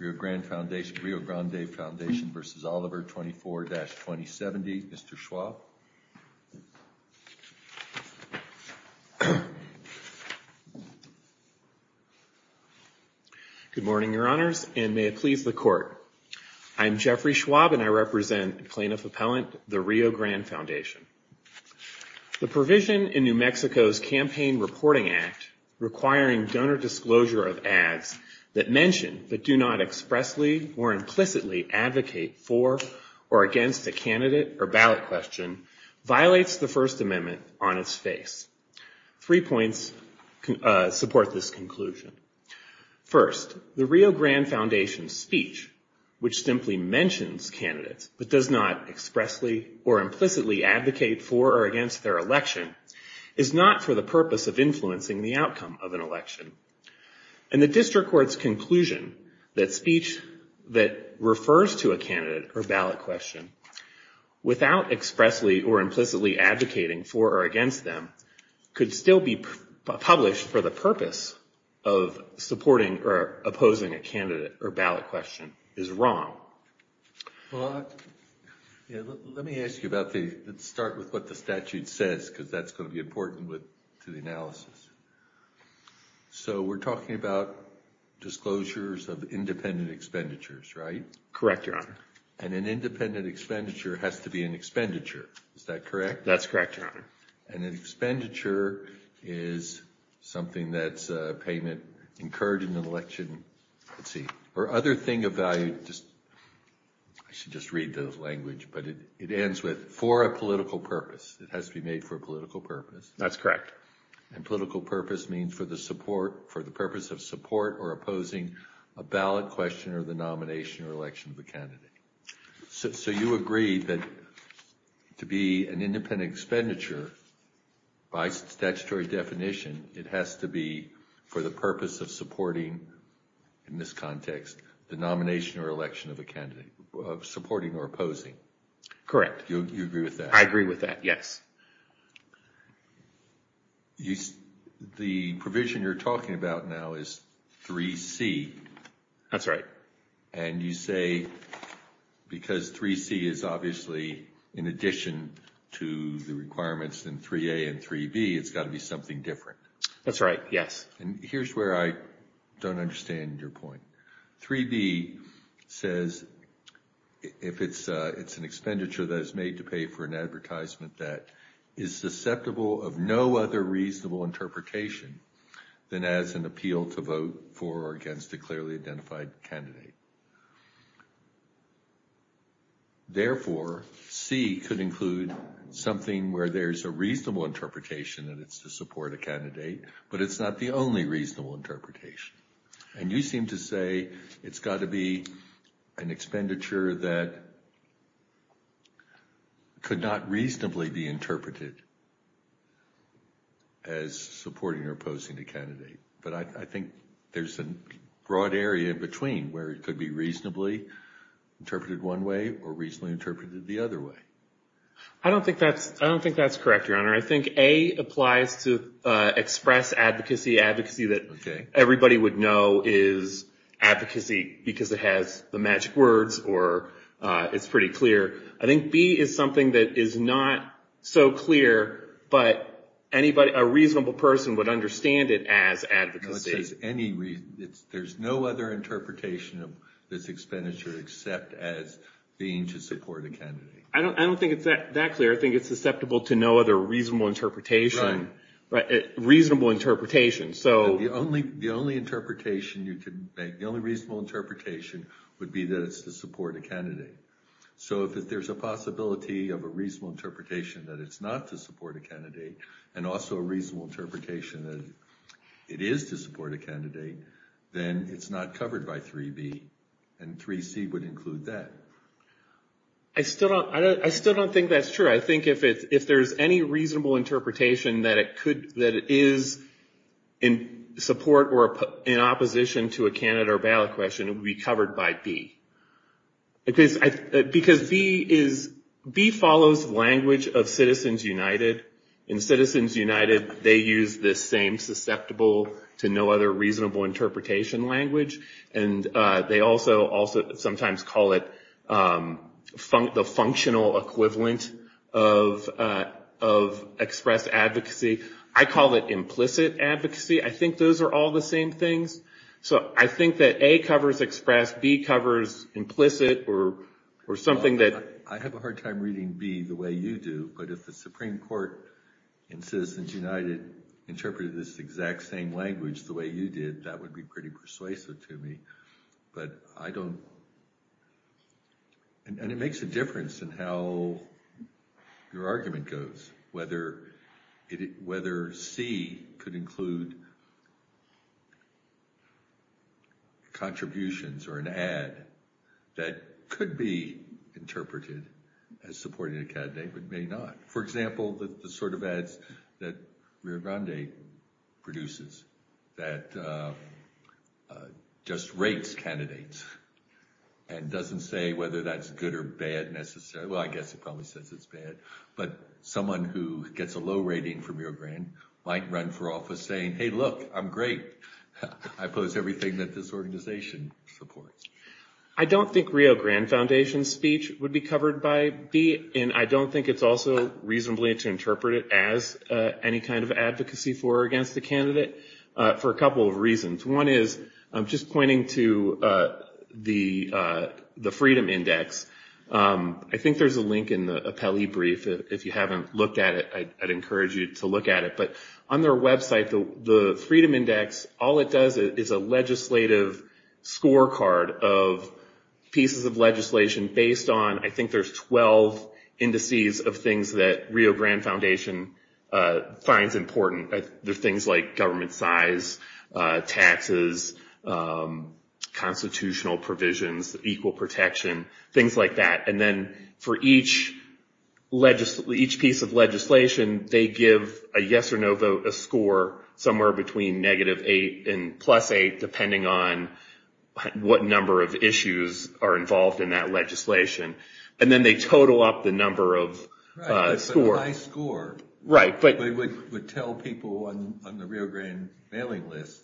24-2070, Mr. Schwab. Good morning, Your Honors, and may it please the Court. I'm Jeffrey Schwab and I represent Plaintiff Appellant, the Rio Grande Foundation. The provision in New Mexico's Campaign Reporting Act requiring donor disclosure of ads that mention but do not expressly or implicitly advocate for or against a candidate or ballot question violates the First Amendment on its face. Three points support this conclusion. First, the Rio Grande Foundation's speech, which simply mentions candidates but does not expressly or implicitly advocate for or against their election, is not for the purpose of influencing the outcome of an election. And the district court's conclusion that speech that refers to a candidate or ballot question without expressly or implicitly advocating for or against them could still be published for the purpose of supporting or opposing a candidate or ballot question is wrong. Well, let me ask you about the, let's start with what the statute says because that's going to be important to the analysis. So we're talking about disclosures of independent expenditures, right? Correct, Your Honor. And an independent expenditure has to be an expenditure, is that correct? That's correct, Your Honor. And an expenditure is something that's a payment incurred in an election, let's see, or other thing of value just, I should just read the language, but it ends with for a political purpose. It has to be made for a political purpose. That's correct. And political purpose means for the support, for the purpose of support or opposing a ballot question or the nomination or election of a candidate. So you agree that to be an independent expenditure by statutory definition, it has to be for the purpose of supporting, in this context, the nomination or election of a candidate, of supporting or opposing. Correct. You agree with that? I agree with that, yes. The provision you're talking about now is 3C. That's right. And you say because 3C is obviously in addition to the requirements in 3A and 3B, it's got to be something different. That's right, yes. And here's where I don't understand your point. 3B says if it's an expenditure that is made to pay for an advertisement that is susceptible of no other reasonable interpretation than as an appeal to vote for or against a clearly identified candidate. Therefore, C could include something where there's a reasonable interpretation that it's to support a candidate, but it's not the only reasonable interpretation. And you seem to say it's got to be an expenditure that could not reasonably be interpreted as supporting or opposing a candidate. But I think there's a broad area in between where it could be reasonably interpreted one way or reasonably interpreted the other way. I don't think that's correct, Your Honor. I think A applies to express advocacy, advocacy that everybody would know is advocacy because it has the magic words or it's pretty clear. I think B is something that is not so clear, but a reasonable person would understand it as advocacy. There's no other interpretation of this expenditure except as being to support a candidate. I don't think it's that clear. I think it's susceptible to no other reasonable interpretation. The only reasonable interpretation would be that it's to support a candidate. So if there's a possibility of a reasonable interpretation that it's not to support a candidate, and also a reasonable interpretation that it is to support a candidate, then it's not covered by 3B. And 3C would include that. I still don't think that's true. I think if there's any reasonable interpretation that it is in support or in opposition to a candidate or ballot question, it would be covered by B. Because B follows language of Citizens United. And Citizens United, they use this same susceptible to no other reasonable interpretation language. And they also sometimes call it the functional equivalent of express advocacy. I call it implicit advocacy. I think those are all the same things. So I think that A covers express, B covers implicit or something that... I have a hard time reading B the way you do. But if the Supreme Court in Citizens United interpreted this exact same language the way you did, that would be pretty persuasive to me. And it makes a difference in how your argument goes. Whether C could include contributions or an ad that could be interpreted as supporting a candidate, but may not. For example, the sort of ads that Rio Grande produces that just rates candidates and doesn't say whether that's good or bad necessarily. Well, I guess it probably says it's bad. But someone who gets a low rating from Rio Grande might run for office saying, hey, look, I'm great. I oppose everything that this organization supports. I don't think Rio Grande Foundation's speech would be covered by B. And I don't think it's also reasonably to interpret it as any kind of advocacy for or against the candidate for a couple of reasons. One is, just pointing to the Freedom Index. I think there's a link in the appellee brief. If you haven't looked at it, I'd encourage you to look at it. But on their website, the Freedom Index, all it does is a legislative scorecard of pieces of legislation based on, I think there's 12 indices of things that Rio Grande Foundation finds important. There's things like government size, taxes, constitutional provisions, equal protection, things like that. And then for each piece of legislation, they give a yes or no vote, a score, somewhere between negative eight and plus eight, depending on what number of issues are involved in that legislation. And then they total up the score. It's a high score. Right. But it would tell people on the Rio Grande mailing list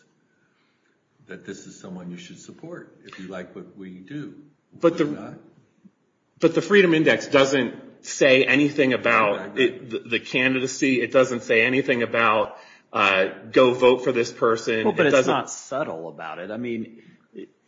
that this is someone you should support if you like what we do. But the Freedom Index doesn't say anything about the candidacy. It doesn't say anything about go vote for this person. Well, but it's not subtle about it. I mean,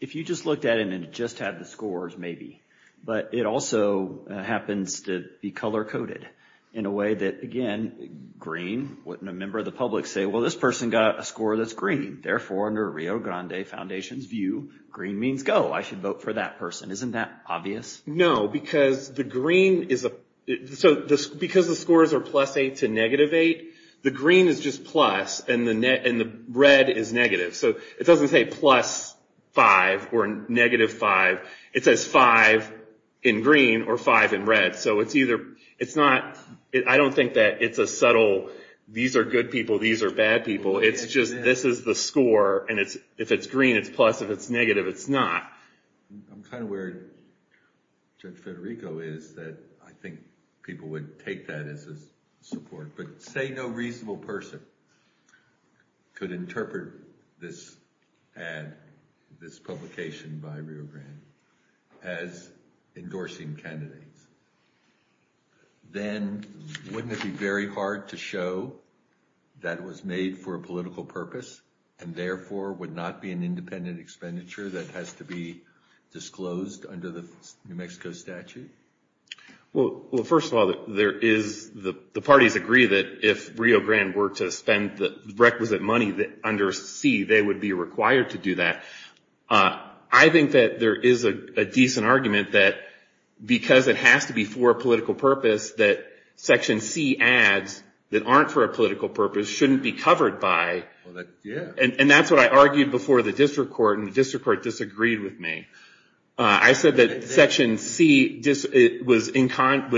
if you just looked at it and it just had the scores, maybe. But it also happens to be color coded in a way that, again, green, wouldn't a member of the public say, well, this person got a score that's green. Therefore, under Rio Grande Foundation's view, green means go. I should vote for that person. Isn't that obvious? No, because the green is... So because the scores are plus eight to negative eight, the green is just plus and the red is negative. So it doesn't say plus five or negative five. It says five in green or five in red. So I don't think that it's a subtle, these are good people, these are bad people. It's just, this is the score. And if it's green, it's plus. If it's negative, it's not. I'm kind of where Judge Federico is that I think people would take that as a support. But say no reasonable person could interpret this ad, this publication by Rio as endorsing candidates, then wouldn't it be very hard to show that it was made for a political purpose and therefore would not be an independent expenditure that has to be disclosed under the New Mexico statute? Well, first of all, the parties agree that if Rio Grande were to spend the requisite money under C, they would be required to do that. I think that there is a decent argument that because it has to be for a political purpose, that section C ads that aren't for a political purpose shouldn't be covered by... And that's what I argued before the district court and the district court disagreed with me. I said that section C was in conflict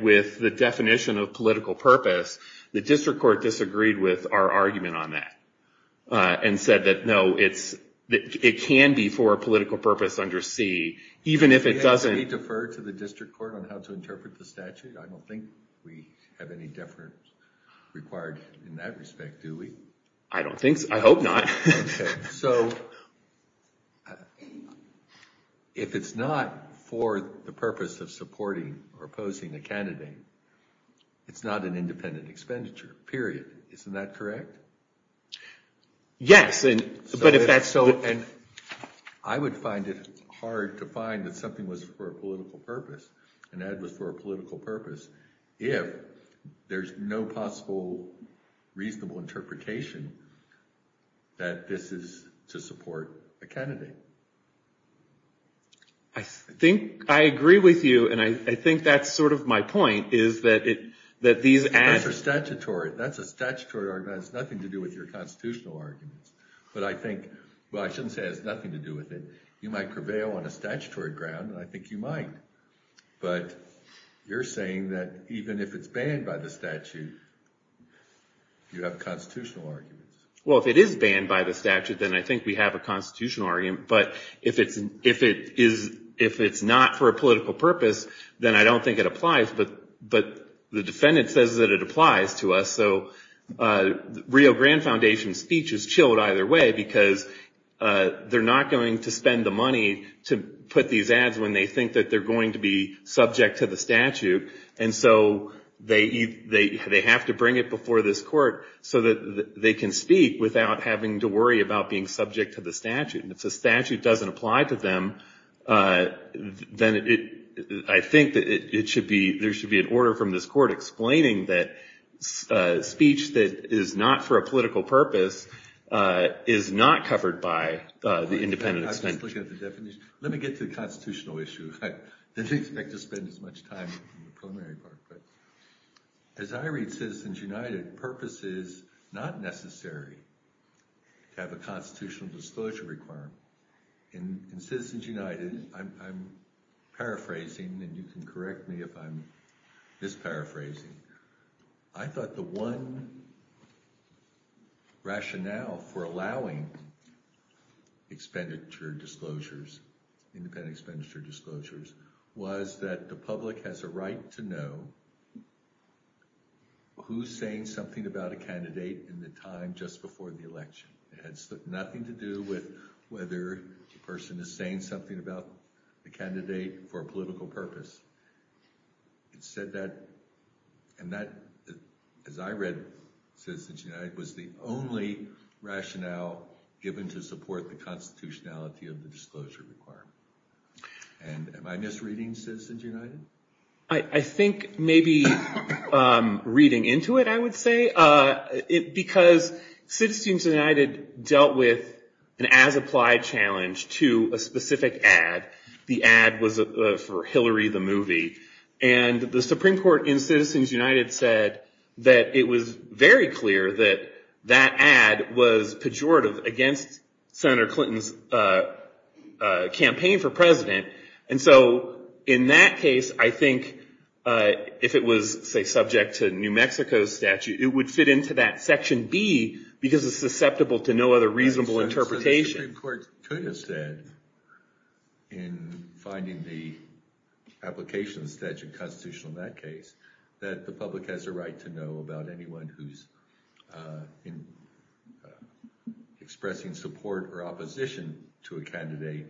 with the definition of political purpose. The district court disagreed with our argument on that and said that no, it can be for a political purpose under C, even if it doesn't... Can we defer to the district court on how to interpret the statute? I don't think we have any deference required in that respect, do we? I don't think so. I hope not. Okay. So if it's not for the purpose of supporting or opposing a candidate, it's not an independent expenditure, period. Isn't that correct? Yes, but if that's so... I would find it hard to find that something was for a political purpose, an ad was for a political purpose, if there's no possible reasonable interpretation that this is to support a candidate. I think I agree with you, and I think that's sort of my point, is that these ads... That's a statutory argument. It has nothing to do with your constitutional arguments, but I think... Well, I shouldn't say it has nothing to do with it. You might prevail on a statutory ground, and I think you might, but you're saying that even if it's banned by the statute, you have constitutional arguments. Well, if it is banned by the statute, then I think we have a constitutional argument, but if it's not for a political purpose, then I don't think it applies, but the defendant says that it applies to us, so Rio Grande Foundation's speech is chilled either way, because they're not going to spend the money to put these ads when they think that they're going to be subject to the statute, and so they have to bring it before this court so that they can speak without having to worry about being subject to the statute, and if the statute doesn't apply to them, then I think that there should be an order from this court explaining that speech that is not for a political purpose is not covered by the independent... I'm just looking at the definition. Let me get to the constitutional issue. I didn't expect to spend as much time on the preliminary part, but as I read Citizens United, purpose is not necessary to have a constitutional disclosure requirement. In Citizens United, I'm paraphrasing, and you can correct me if I'm misparaphrasing, I thought the one rationale for allowing expenditure disclosures, independent expenditure disclosures, was that the public has a right to know who's saying something about a candidate in the time just before the election. It had nothing to do with whether the person is saying something about the candidate for a political purpose. It said that, and that, as I read Citizens United, was the only rationale given to support the constitutionality of the disclosure requirement. Am I misreading Citizens United? I think maybe reading into it, I would say, because Citizens United dealt with an as-applied challenge to a specific ad. The ad was for Hillary the movie, and the Supreme Court in Citizens United, Senator Clinton's campaign for president. And so in that case, I think if it was, say, subject to New Mexico's statute, it would fit into that section B, because it's susceptible to no other reasonable interpretation. The Supreme Court could have said, in finding the application of the statute constitutional in that case, that the public has a right to know about anyone who's expressing support or opposition to a candidate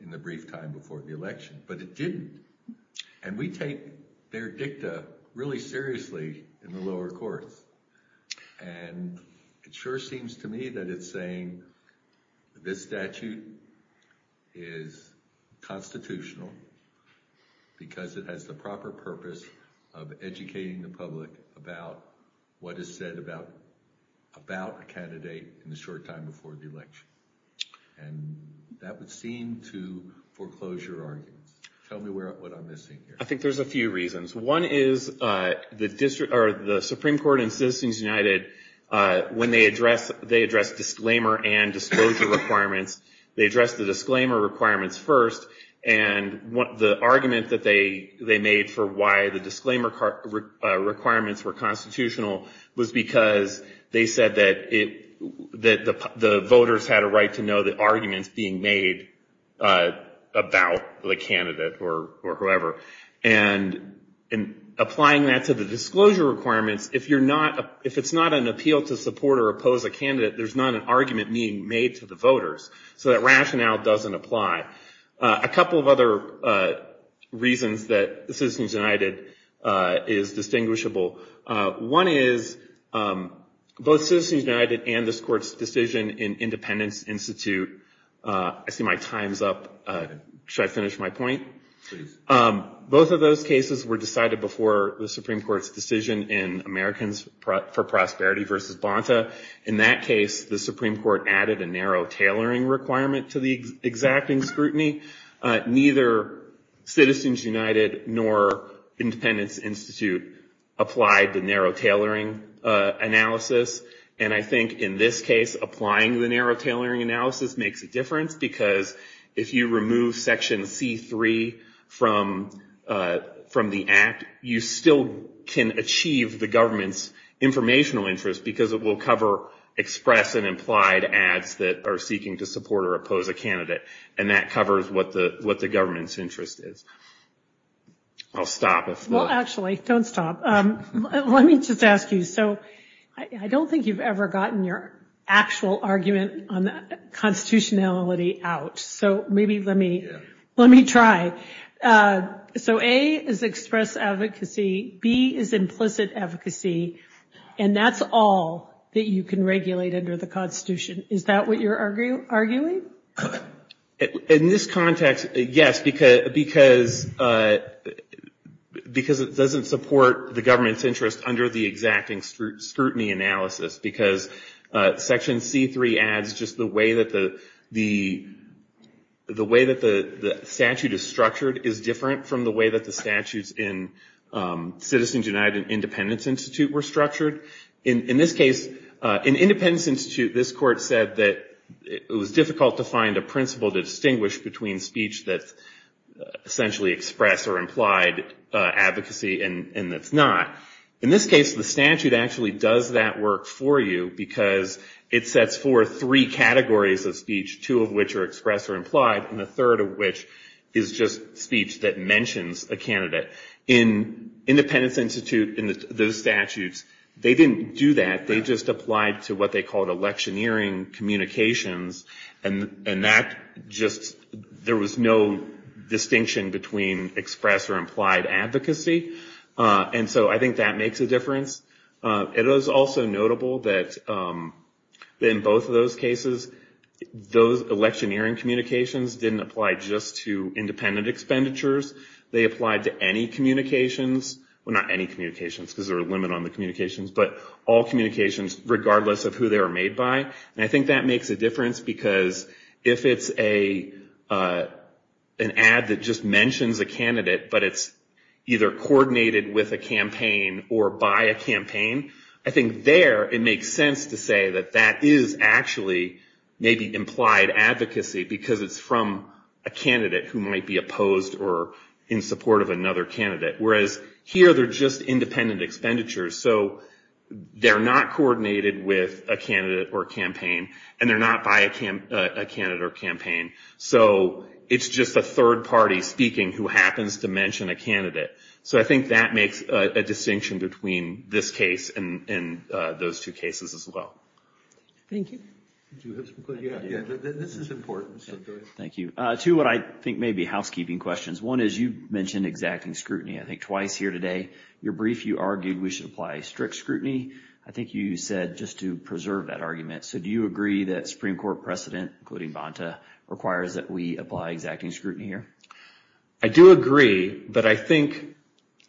in the brief time before the election. But it didn't. And we take their dicta really seriously in the lower courts. And it sure seems to me that it's saying, this statute is constitutional because it has the purpose of educating the public about what is said about a candidate in the short time before the election. And that would seem to foreclose your argument. Tell me what I'm missing here. I think there's a few reasons. One is the Supreme Court in Citizens United, when they address disclaimer and disclosure requirements, they address the disclaimer requirements first. And the argument that they made for why the disclaimer requirements were constitutional was because they said that the voters had a right to know the arguments being made about the candidate or whoever. And in applying that to the disclosure requirements, if it's not an appeal to support or oppose a candidate, there's not an argument being made to the voters. So that rationale doesn't apply. A couple of other reasons that Citizens United is distinguishable. One is both Citizens United and this court's decision in Independence Institute, I see my time's up. Should I finish my point? Both of those cases were decided before the Supreme Court's decision in Americans for Prosperity versus Bonta. In that case, the Supreme Court added a narrow tailoring requirement to the exacting scrutiny. Neither Citizens United nor Independence Institute applied the narrow tailoring analysis. And I think in this case, applying the narrow tailoring analysis makes a difference because if you remove section C3 from the act, you still can achieve the government's informational interest because it will cover express and implied ads that are seeking to support or oppose a candidate. And that covers what the government's interest is. I'll stop. Well, actually, don't stop. Let me just ask you. So I don't think you've ever gotten your actual argument on constitutionality out. So maybe let me try. So A is express advocacy. B is implicit advocacy. And that's all that you can regulate under the Constitution. Is that what you're arguing? In this context, yes, because it doesn't support the government's interest under the exacting scrutiny analysis because section C3 adds just the way that the statute is structured is different from the way that the statutes in Citizens United and Independence Institute were structured. In this case, in Independence Institute, this court said that it was difficult to find a principle to distinguish between speech that's essentially express or implied advocacy and that's not. In this case, the statute actually does that work for you because it sets forth three categories of speech, two of which are express or implied, and the third of which is just speech that mentions a candidate. In Independence Institute, in those statutes, they didn't do that. They just applied to what they called electioneering communications. And that just, there was no distinction between express or implied advocacy. And so I think that makes a difference. It is also notable that in both of cases, those electioneering communications didn't apply just to independent expenditures. They applied to any communications. Well, not any communications because there's a limit on the communications, but all communications regardless of who they are made by. And I think that makes a difference because if it's an ad that just mentions a candidate but it's either coordinated with a campaign or by a campaign, I think there it makes sense to say that that is actually maybe implied advocacy because it's from a candidate who might be opposed or in support of another candidate. Whereas here, they're just independent expenditures. So they're not coordinated with a candidate or campaign and they're not by a candidate or campaign. So it's just a third party speaking who happens to mention a candidate. So I think that makes a distinction between this case and those two cases as well. Thank you. This is important. Thank you. Two what I think may be housekeeping questions. One is you mentioned exacting scrutiny. I think twice here today. Your brief, you argued we should apply strict scrutiny. I think you said just to preserve that argument. So do you agree that Supreme Court precedent, including Bonta, requires that we apply exacting scrutiny here? I do agree, but I think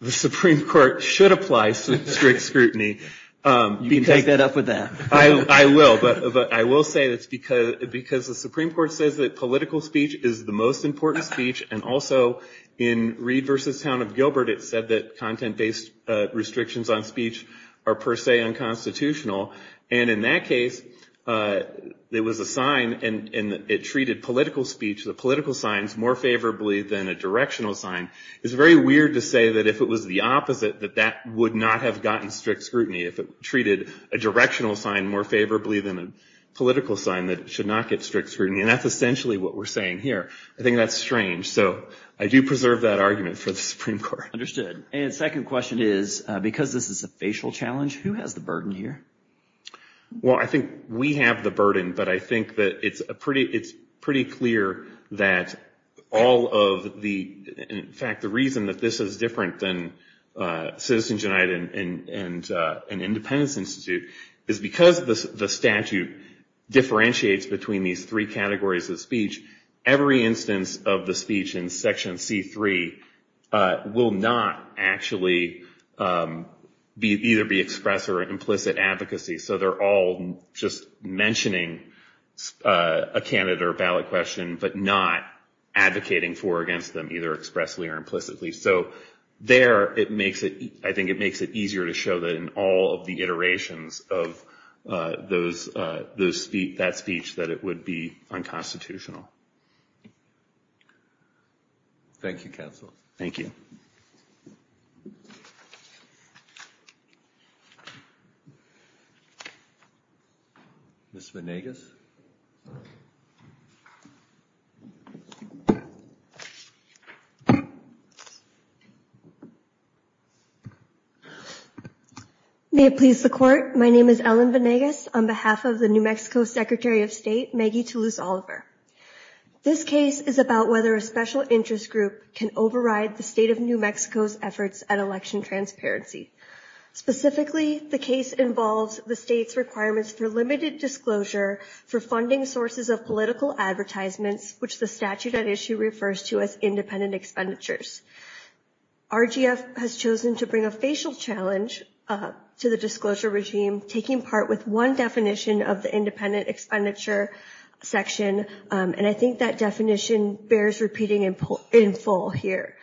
the Supreme Court should apply strict scrutiny. You can take that up with that. I will. But I will say that's because the Supreme Court says that political speech is the most important speech and also in Reed versus Town of Gilbert, it said that content-based restrictions on speech are per se unconstitutional. And in that case, there was a sign and it treated political speech, the political signs, more favorably than a directional sign. It's very weird to say that if it was the opposite, that that would not have gotten strict scrutiny if it treated a directional sign more favorably than a political sign that should not get strict scrutiny. And that's essentially what we're saying here. I think that's strange. So I do preserve that argument for the Supreme Court. Understood. And second question is, because this is a facial challenge, who has the burden here? Well, I think we have the burden, but I think that it's a pretty, it's pretty clear that all of the, in fact, the reason that this is different than Citizens United and Independence Institute is because the statute differentiates between these three categories of speech. Every instance of the speech in Section C3 will not actually be, either be expressed or implicit advocacy. So they're all just mentioning a candidate or ballot question, but not advocating for or against them either expressly or implicitly. So there, it makes it, I think it makes it easier to show that in all of the iterations of those, that speech, that it would be unconstitutional. Thank you, counsel. Thank you. Ms. Venegas. May it please the Court. My name is Ellen Venegas on behalf of the New Mexico Secretary of State Maggie Toulouse Oliver. This case is about whether a special interest group can override the state of New Mexico's efforts at election transparency. Specifically, the case involves the state's requirements for limited disclosure for funding sources of political advertisements, which the statute at issue refers to as independent expenditures. RGF has chosen to bring a facial challenge to the disclosure regime, taking part with one definition of the independent expenditure section, and I think that definition bears repeating in full here.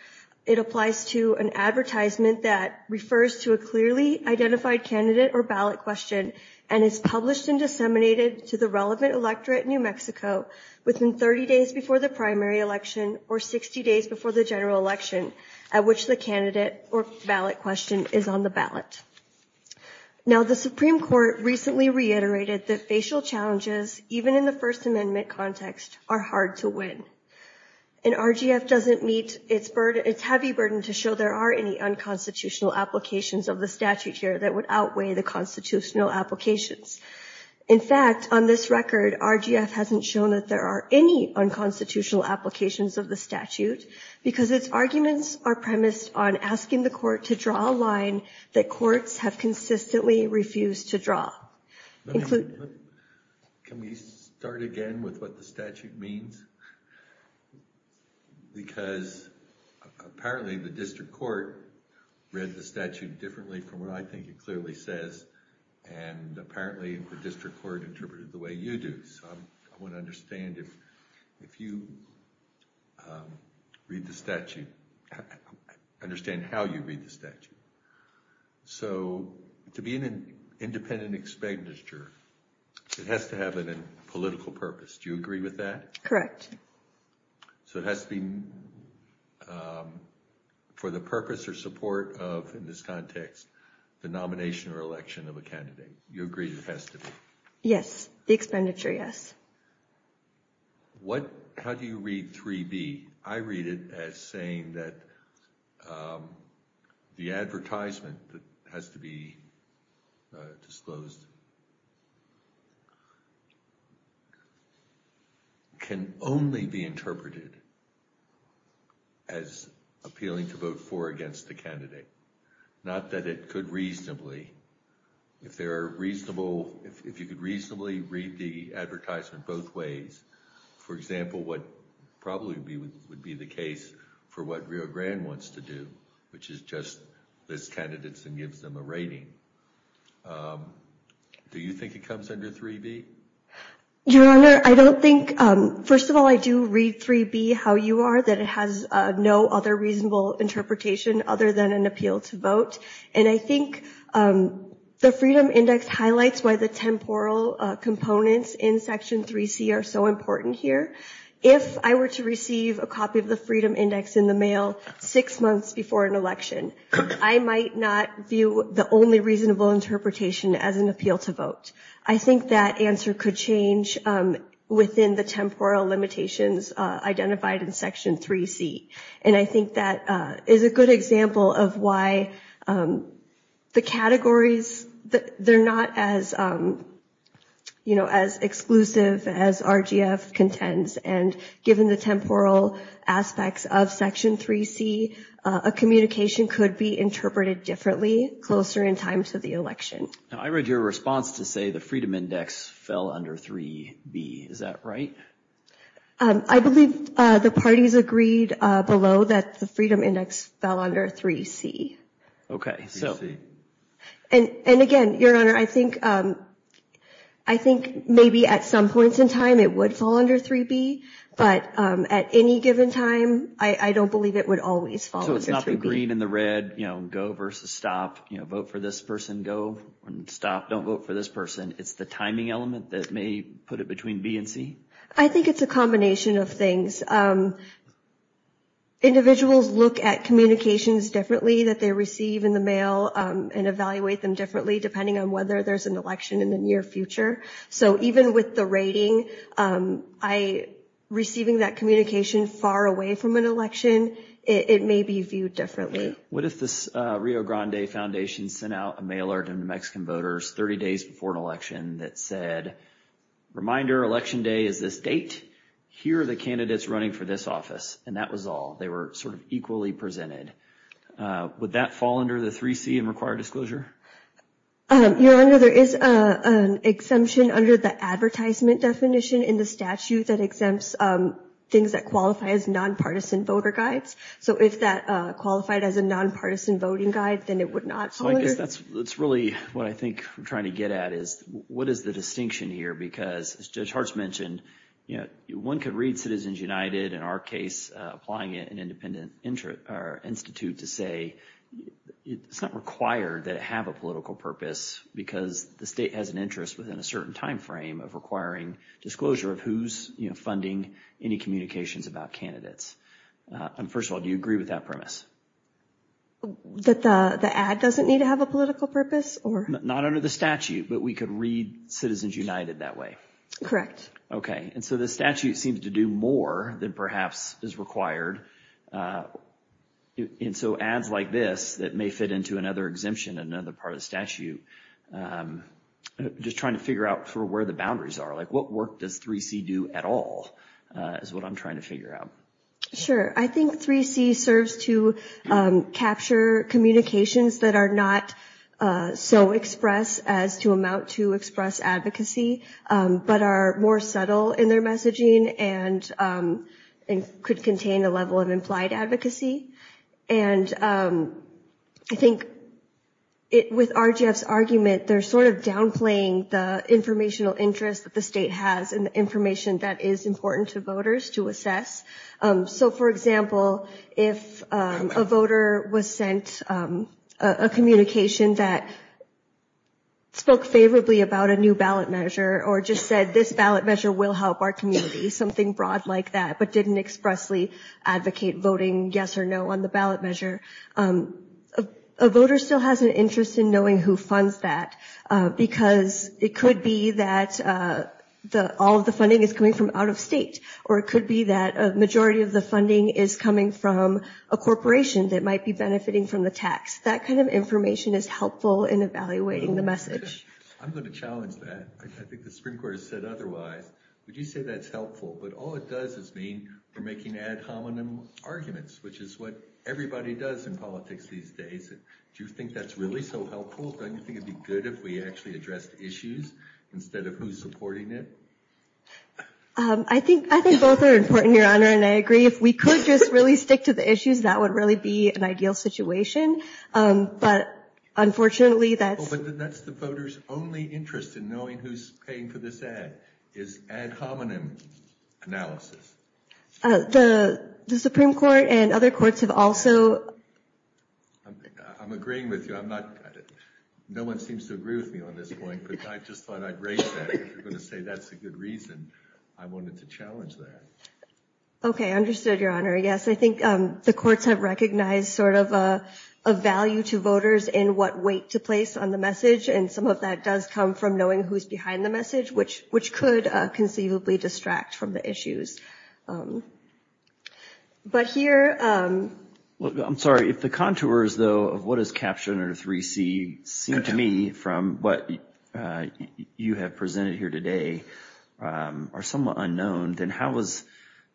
It applies to an advertisement that refers to a clearly identified candidate or ballot question and is published and disseminated to the relevant electorate in New Mexico within 30 days before the primary election or 60 days before the general election at which the candidate or ballot question is on the ballot. Now, the Supreme Court recently reiterated that facial challenges, even in the First Amendment context, are hard to win. And RGF doesn't meet its burden, its heavy burden to show there are any unconstitutional applications of the statute here that would outweigh the constitutional applications. In fact, on this record, RGF hasn't shown that there are any unconstitutional applications of the statute because its arguments are premised on asking the Court to draw a line that courts have consistently refused to draw. Can we start again with what the statute means? Because apparently the district court read the statute differently from what I think it clearly says, and apparently the district court interpreted it the way you do. So I want to understand if you read the statute, understand how you read the statute. So to be an independent expenditure, it has to have a political purpose. Do you agree with that? Correct. So it has to be for the purpose or support of, in this context, the nomination or election of a candidate. You agree it has to be? Yes, the expenditure, yes. How do you read 3B? I read it as saying that the advertisement that has to be disclosed can only be interpreted as appealing to vote for or against the candidate, not that it could reasonably. If there are reasonable, if you could reasonably read the advertisement both ways, for example, what probably would be the case for what Rio Grande wants to do, which is just list candidates and gives them a rating. Do you think it comes under 3B? Your Honor, I don't think, first of all, I do read 3B how you are, that it has no other interpretation other than an appeal to vote. And I think the Freedom Index highlights why the temporal components in Section 3C are so important here. If I were to receive a copy of the Freedom Index in the mail six months before an election, I might not view the only reasonable interpretation as an appeal to vote. I think that answer could change within the temporal limitations identified in Section 3C. And I think that is a good example of why the categories, they're not as, you know, as exclusive as RGF contends. And given the temporal aspects of Section 3C, a communication could be interpreted differently closer in time to the election. I read your response to say the Freedom Index fell under 3B. Is that right? I believe the parties agreed below that the Freedom Index fell under 3C. Okay. And again, Your Honor, I think maybe at some points in time it would fall under 3B, but at any given time, I don't believe it would always fall under 3B. So it's not the green and the red, you know, go versus stop, you know, vote for this person, go and stop, don't vote for this person. It's the timing element that may put it between B and C? I think it's a combination of things. Individuals look at communications differently that they receive in the mail and evaluate them differently depending on whether there's an election in the near future. So even with the rating, receiving that communication far away from an election, it may be viewed differently. What if the Rio Grande Foundation sent out a mailer to New Mexican voters 30 days before an election that said, reminder, election day is this date? Here are the candidates running for this office. And that was all. They were sort of equally presented. Would that fall under the 3C and require disclosure? Your Honor, there is an exemption under the advertisement definition in the statute that exempts things that qualify as nonpartisan voter guides. So if that qualified as a nonpartisan voting guide, then it would not fall under... So I guess that's really what I think we're trying to get at is what is the distinction here? Because as Judge Hartz mentioned, one could read Citizens United, in our case, applying it in an independent institute to say it's not required that it have a political purpose because the state has an interest within a certain time frame of requiring disclosure of who's funding any communications about candidates. And first of all, do you agree with that premise? That the ad doesn't need to have a political purpose? Not under the statute, but we could read Citizens United that way. Correct. Okay. And so the statute seems to do more than perhaps is required. And so ads like this that may fit into another exemption, another part of the statute, just trying to figure out for where the boundaries are. Like what work does 3C do at all is what I'm trying to figure out. Sure. I think 3C serves to capture communications that are not so express as to amount to express advocacy, but are more subtle in their messaging and could contain a level of implied advocacy. And I think with RGF's argument, they're sort of downplaying the informational interest that the state has in the information that is important to voters to assess. So for example, if a voter was sent a communication that spoke favorably about a new ballot measure or just said this ballot measure will help our community, something broad like that, but didn't expressly advocate voting yes or no on the ballot measure, a voter still has an interest in knowing who funds that because it could be that all of funding is coming from out of state, or it could be that a majority of the funding is coming from a corporation that might be benefiting from the tax. That kind of information is helpful in evaluating the message. I'm going to challenge that. I think the Supreme Court has said otherwise. Would you say that's helpful? But all it does is mean we're making ad hominem arguments, which is what everybody does in politics these days. Do you think that's really so helpful? Don't you think it would be good if we actually addressed issues instead of who's supporting it? I think both are important, Your Honor, and I agree. If we could just really stick to the issues, that would really be an ideal situation. But unfortunately, that's the voters' only interest in knowing who's paying for this ad is ad hominem analysis. The Supreme Court and other courts have also... I'm agreeing with you. No one seems to agree with me on this point, but I just thought I'd raise that. If you're going to say that's a good reason, I wanted to challenge that. Okay, understood, Your Honor. Yes, I think the courts have recognized sort of a value to voters in what weight to place on the message, and some of that does come from knowing who's behind the message, which could conceivably distract from the issues. But here... I'm sorry, if the contours, though, of what is Captioner 3C seem to me from what you have presented here today are somewhat unknown, then how is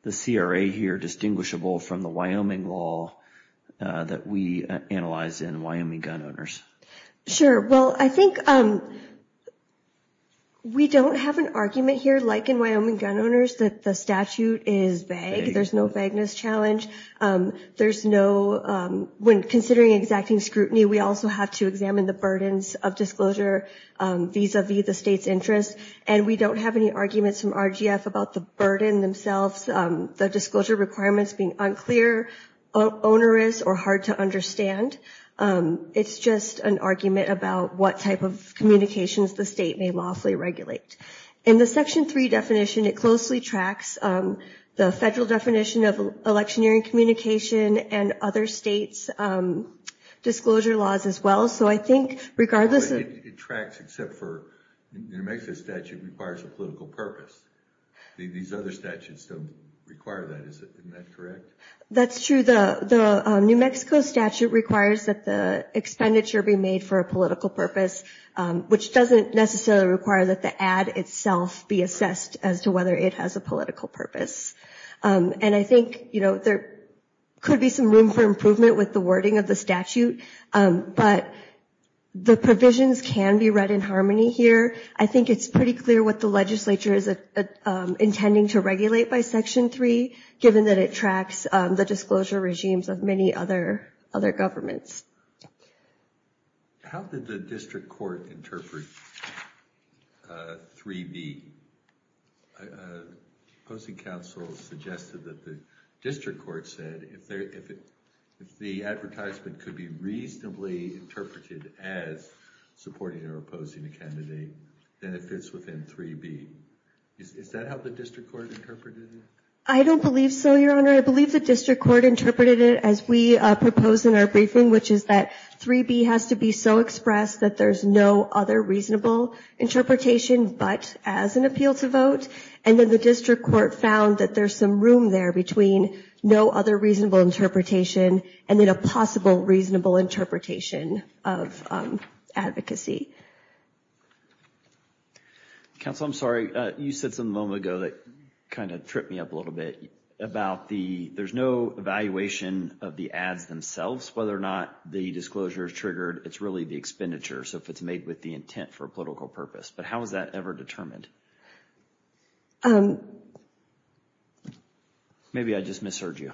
the CRA here distinguishable from the Wyoming law that we analyze in Wyoming Gun Owners? Sure. Well, I think we don't have an argument here, like in Wyoming Gun Owners, that the statute is vague. There's no vagueness challenge. There's no... When considering exacting scrutiny, we also have to examine the burdens of disclosure vis-a-vis the state's interests, and we don't have any arguments from RGF about the burden themselves, the disclosure requirements being unclear, onerous, or hard to understand. It's just an argument about what type of communications the state may lawfully regulate. In the Section 3 definition, it closely tracks the federal definition of electioneering communication and other states' disclosure laws as well, so I think regardless... It tracks except for... New Mexico's statute requires a political purpose. These other statutes don't require that, isn't that correct? That's true. The New Mexico statute requires that the expenditure be made for a political purpose, which doesn't necessarily require that the ad itself be assessed as to whether it has a political purpose, and I think, you know, there could be some room for improvement with the wording of the statute, but the provisions can be read in harmony here. I think it's pretty clear what the legislature is intending to regulate by Section 3, given that it tracks the disclosure regimes of many other governments. How did the district court interpret 3b? The opposing counsel suggested that the district court said if the advertisement could be reasonably interpreted as supporting or opposing a candidate, then it fits within 3b. Is that how the district court interpreted it? I don't believe so, your honor. I believe the district court interpreted it as we proposed in our briefing, which is that 3b has to be so expressed that there's no other reasonable interpretation but as an appeal to vote, and then the district court found that there's some room there between no other reasonable interpretation and then a possible reasonable interpretation of advocacy. Counsel, I'm sorry, you said something a moment ago that kind of tripped me up a little bit about the there's no evaluation of the ads themselves, whether or not the disclosure is triggered. It's really the expenditure, so if it's made with the intent for a political purpose, but how is that ever determined? Maybe I just misheard you.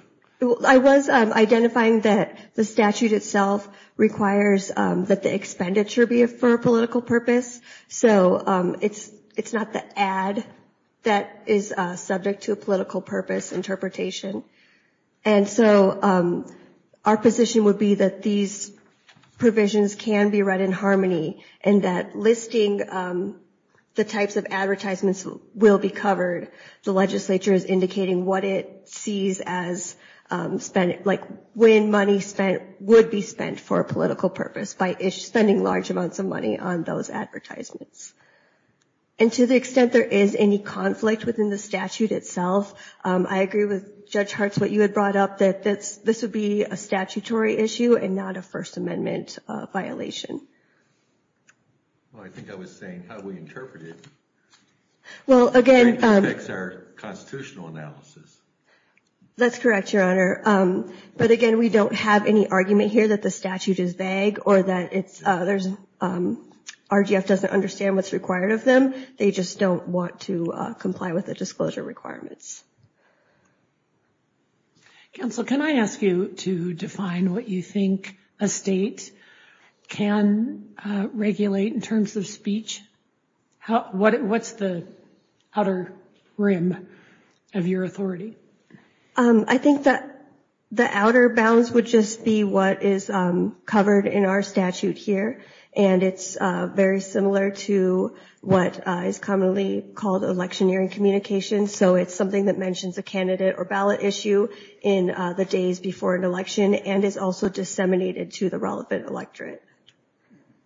I was identifying that the statute itself requires that the expenditure be for a political purpose, so it's not the ad that is subject to a political purpose interpretation, and so our position would be that these provisions can be read in harmony and that listing the types of advertisements will be covered. The legislature is indicating what it sees as spent, like when money spent would be spent for a political purpose by spending large amounts of money on those advertisements, and to the extent there is any conflict within the statute itself, I agree with Judge Hartz, but you had brought up that this would be a statutory issue and not a First Amendment violation. Well, I think I was saying how we interpret it. Well, again, that's our constitutional analysis. That's correct, Your Honor, but again, we don't have any argument here that the statute is vague or that RGF doesn't understand what's required of them. They just don't want to comply with the disclosure requirements. Counsel, can I ask you to define what you think a state can regulate in terms of speech? What's the outer rim of your authority? I think that the outer bounds would just be what is covered in our statute here and it's very similar to what is commonly called electioneering communication, so it's something that mentions a candidate or ballot issue in the days before an election and is also disseminated to the relevant electorate.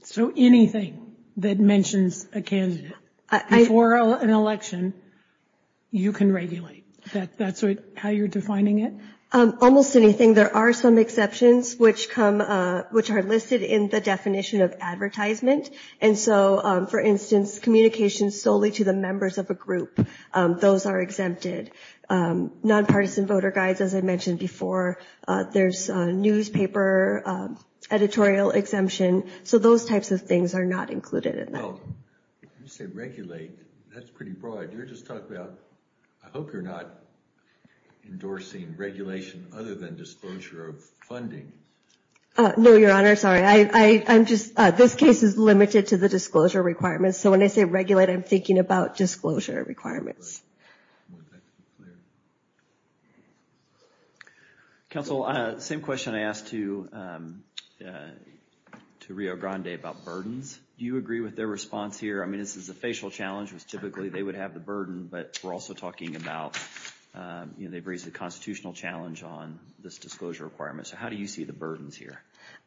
So anything that mentions a candidate before an election, you can regulate? That's how you're defining it? Almost anything. There are some exceptions which are listed in the definition of advertisement and so, for instance, communication solely to the members of a group, those are exempted. Nonpartisan voter guides, as I mentioned before, there's newspaper editorial exemption, so those types of things are not included in that. When you say regulate, that's pretty broad. You're just talking about, I hope you're not endorsing regulation other than disclosure of funding. No, Your Honor, sorry. I'm just, this case is limited to the disclosure requirements, so when I say regulate, I'm thinking about disclosure requirements. Counsel, same question I asked to Rio Grande about burdens. Do you agree with their response here? I mean, this is a facial challenge, which typically they would have the burden, but we're also talking about, you know, they've raised a constitutional challenge on this disclosure requirement, so how do you see the burdens here?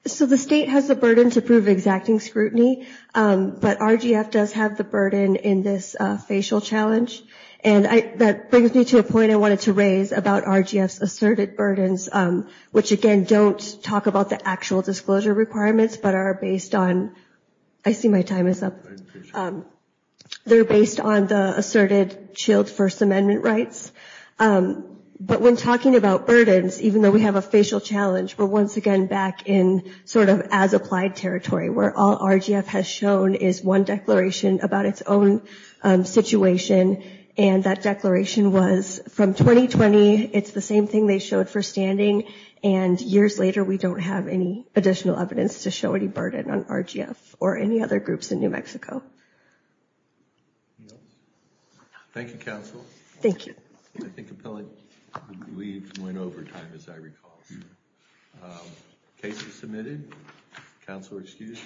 So, the state has the burden to prove exacting scrutiny, but RGF does have the burden in this facial challenge, and that brings me to a point I wanted to raise about RGF's asserted burdens, which, again, don't talk about the actual disclosure requirements, but are based on, I see my time is up. They're based on the asserted chilled First Amendment rights, but when talking about burdens, even though we have a facial challenge, we're once again back in sort of as applied territory, where all RGF has shown is one declaration about its own situation, and that declaration was from 2020. It's the same thing they showed for standing, and years later, we don't have any additional evidence to show any burden on RGF or any other in New Mexico. Thank you, counsel. Thank you. I think appellate leave went over time, as I recall. Cases submitted. Counselor excused.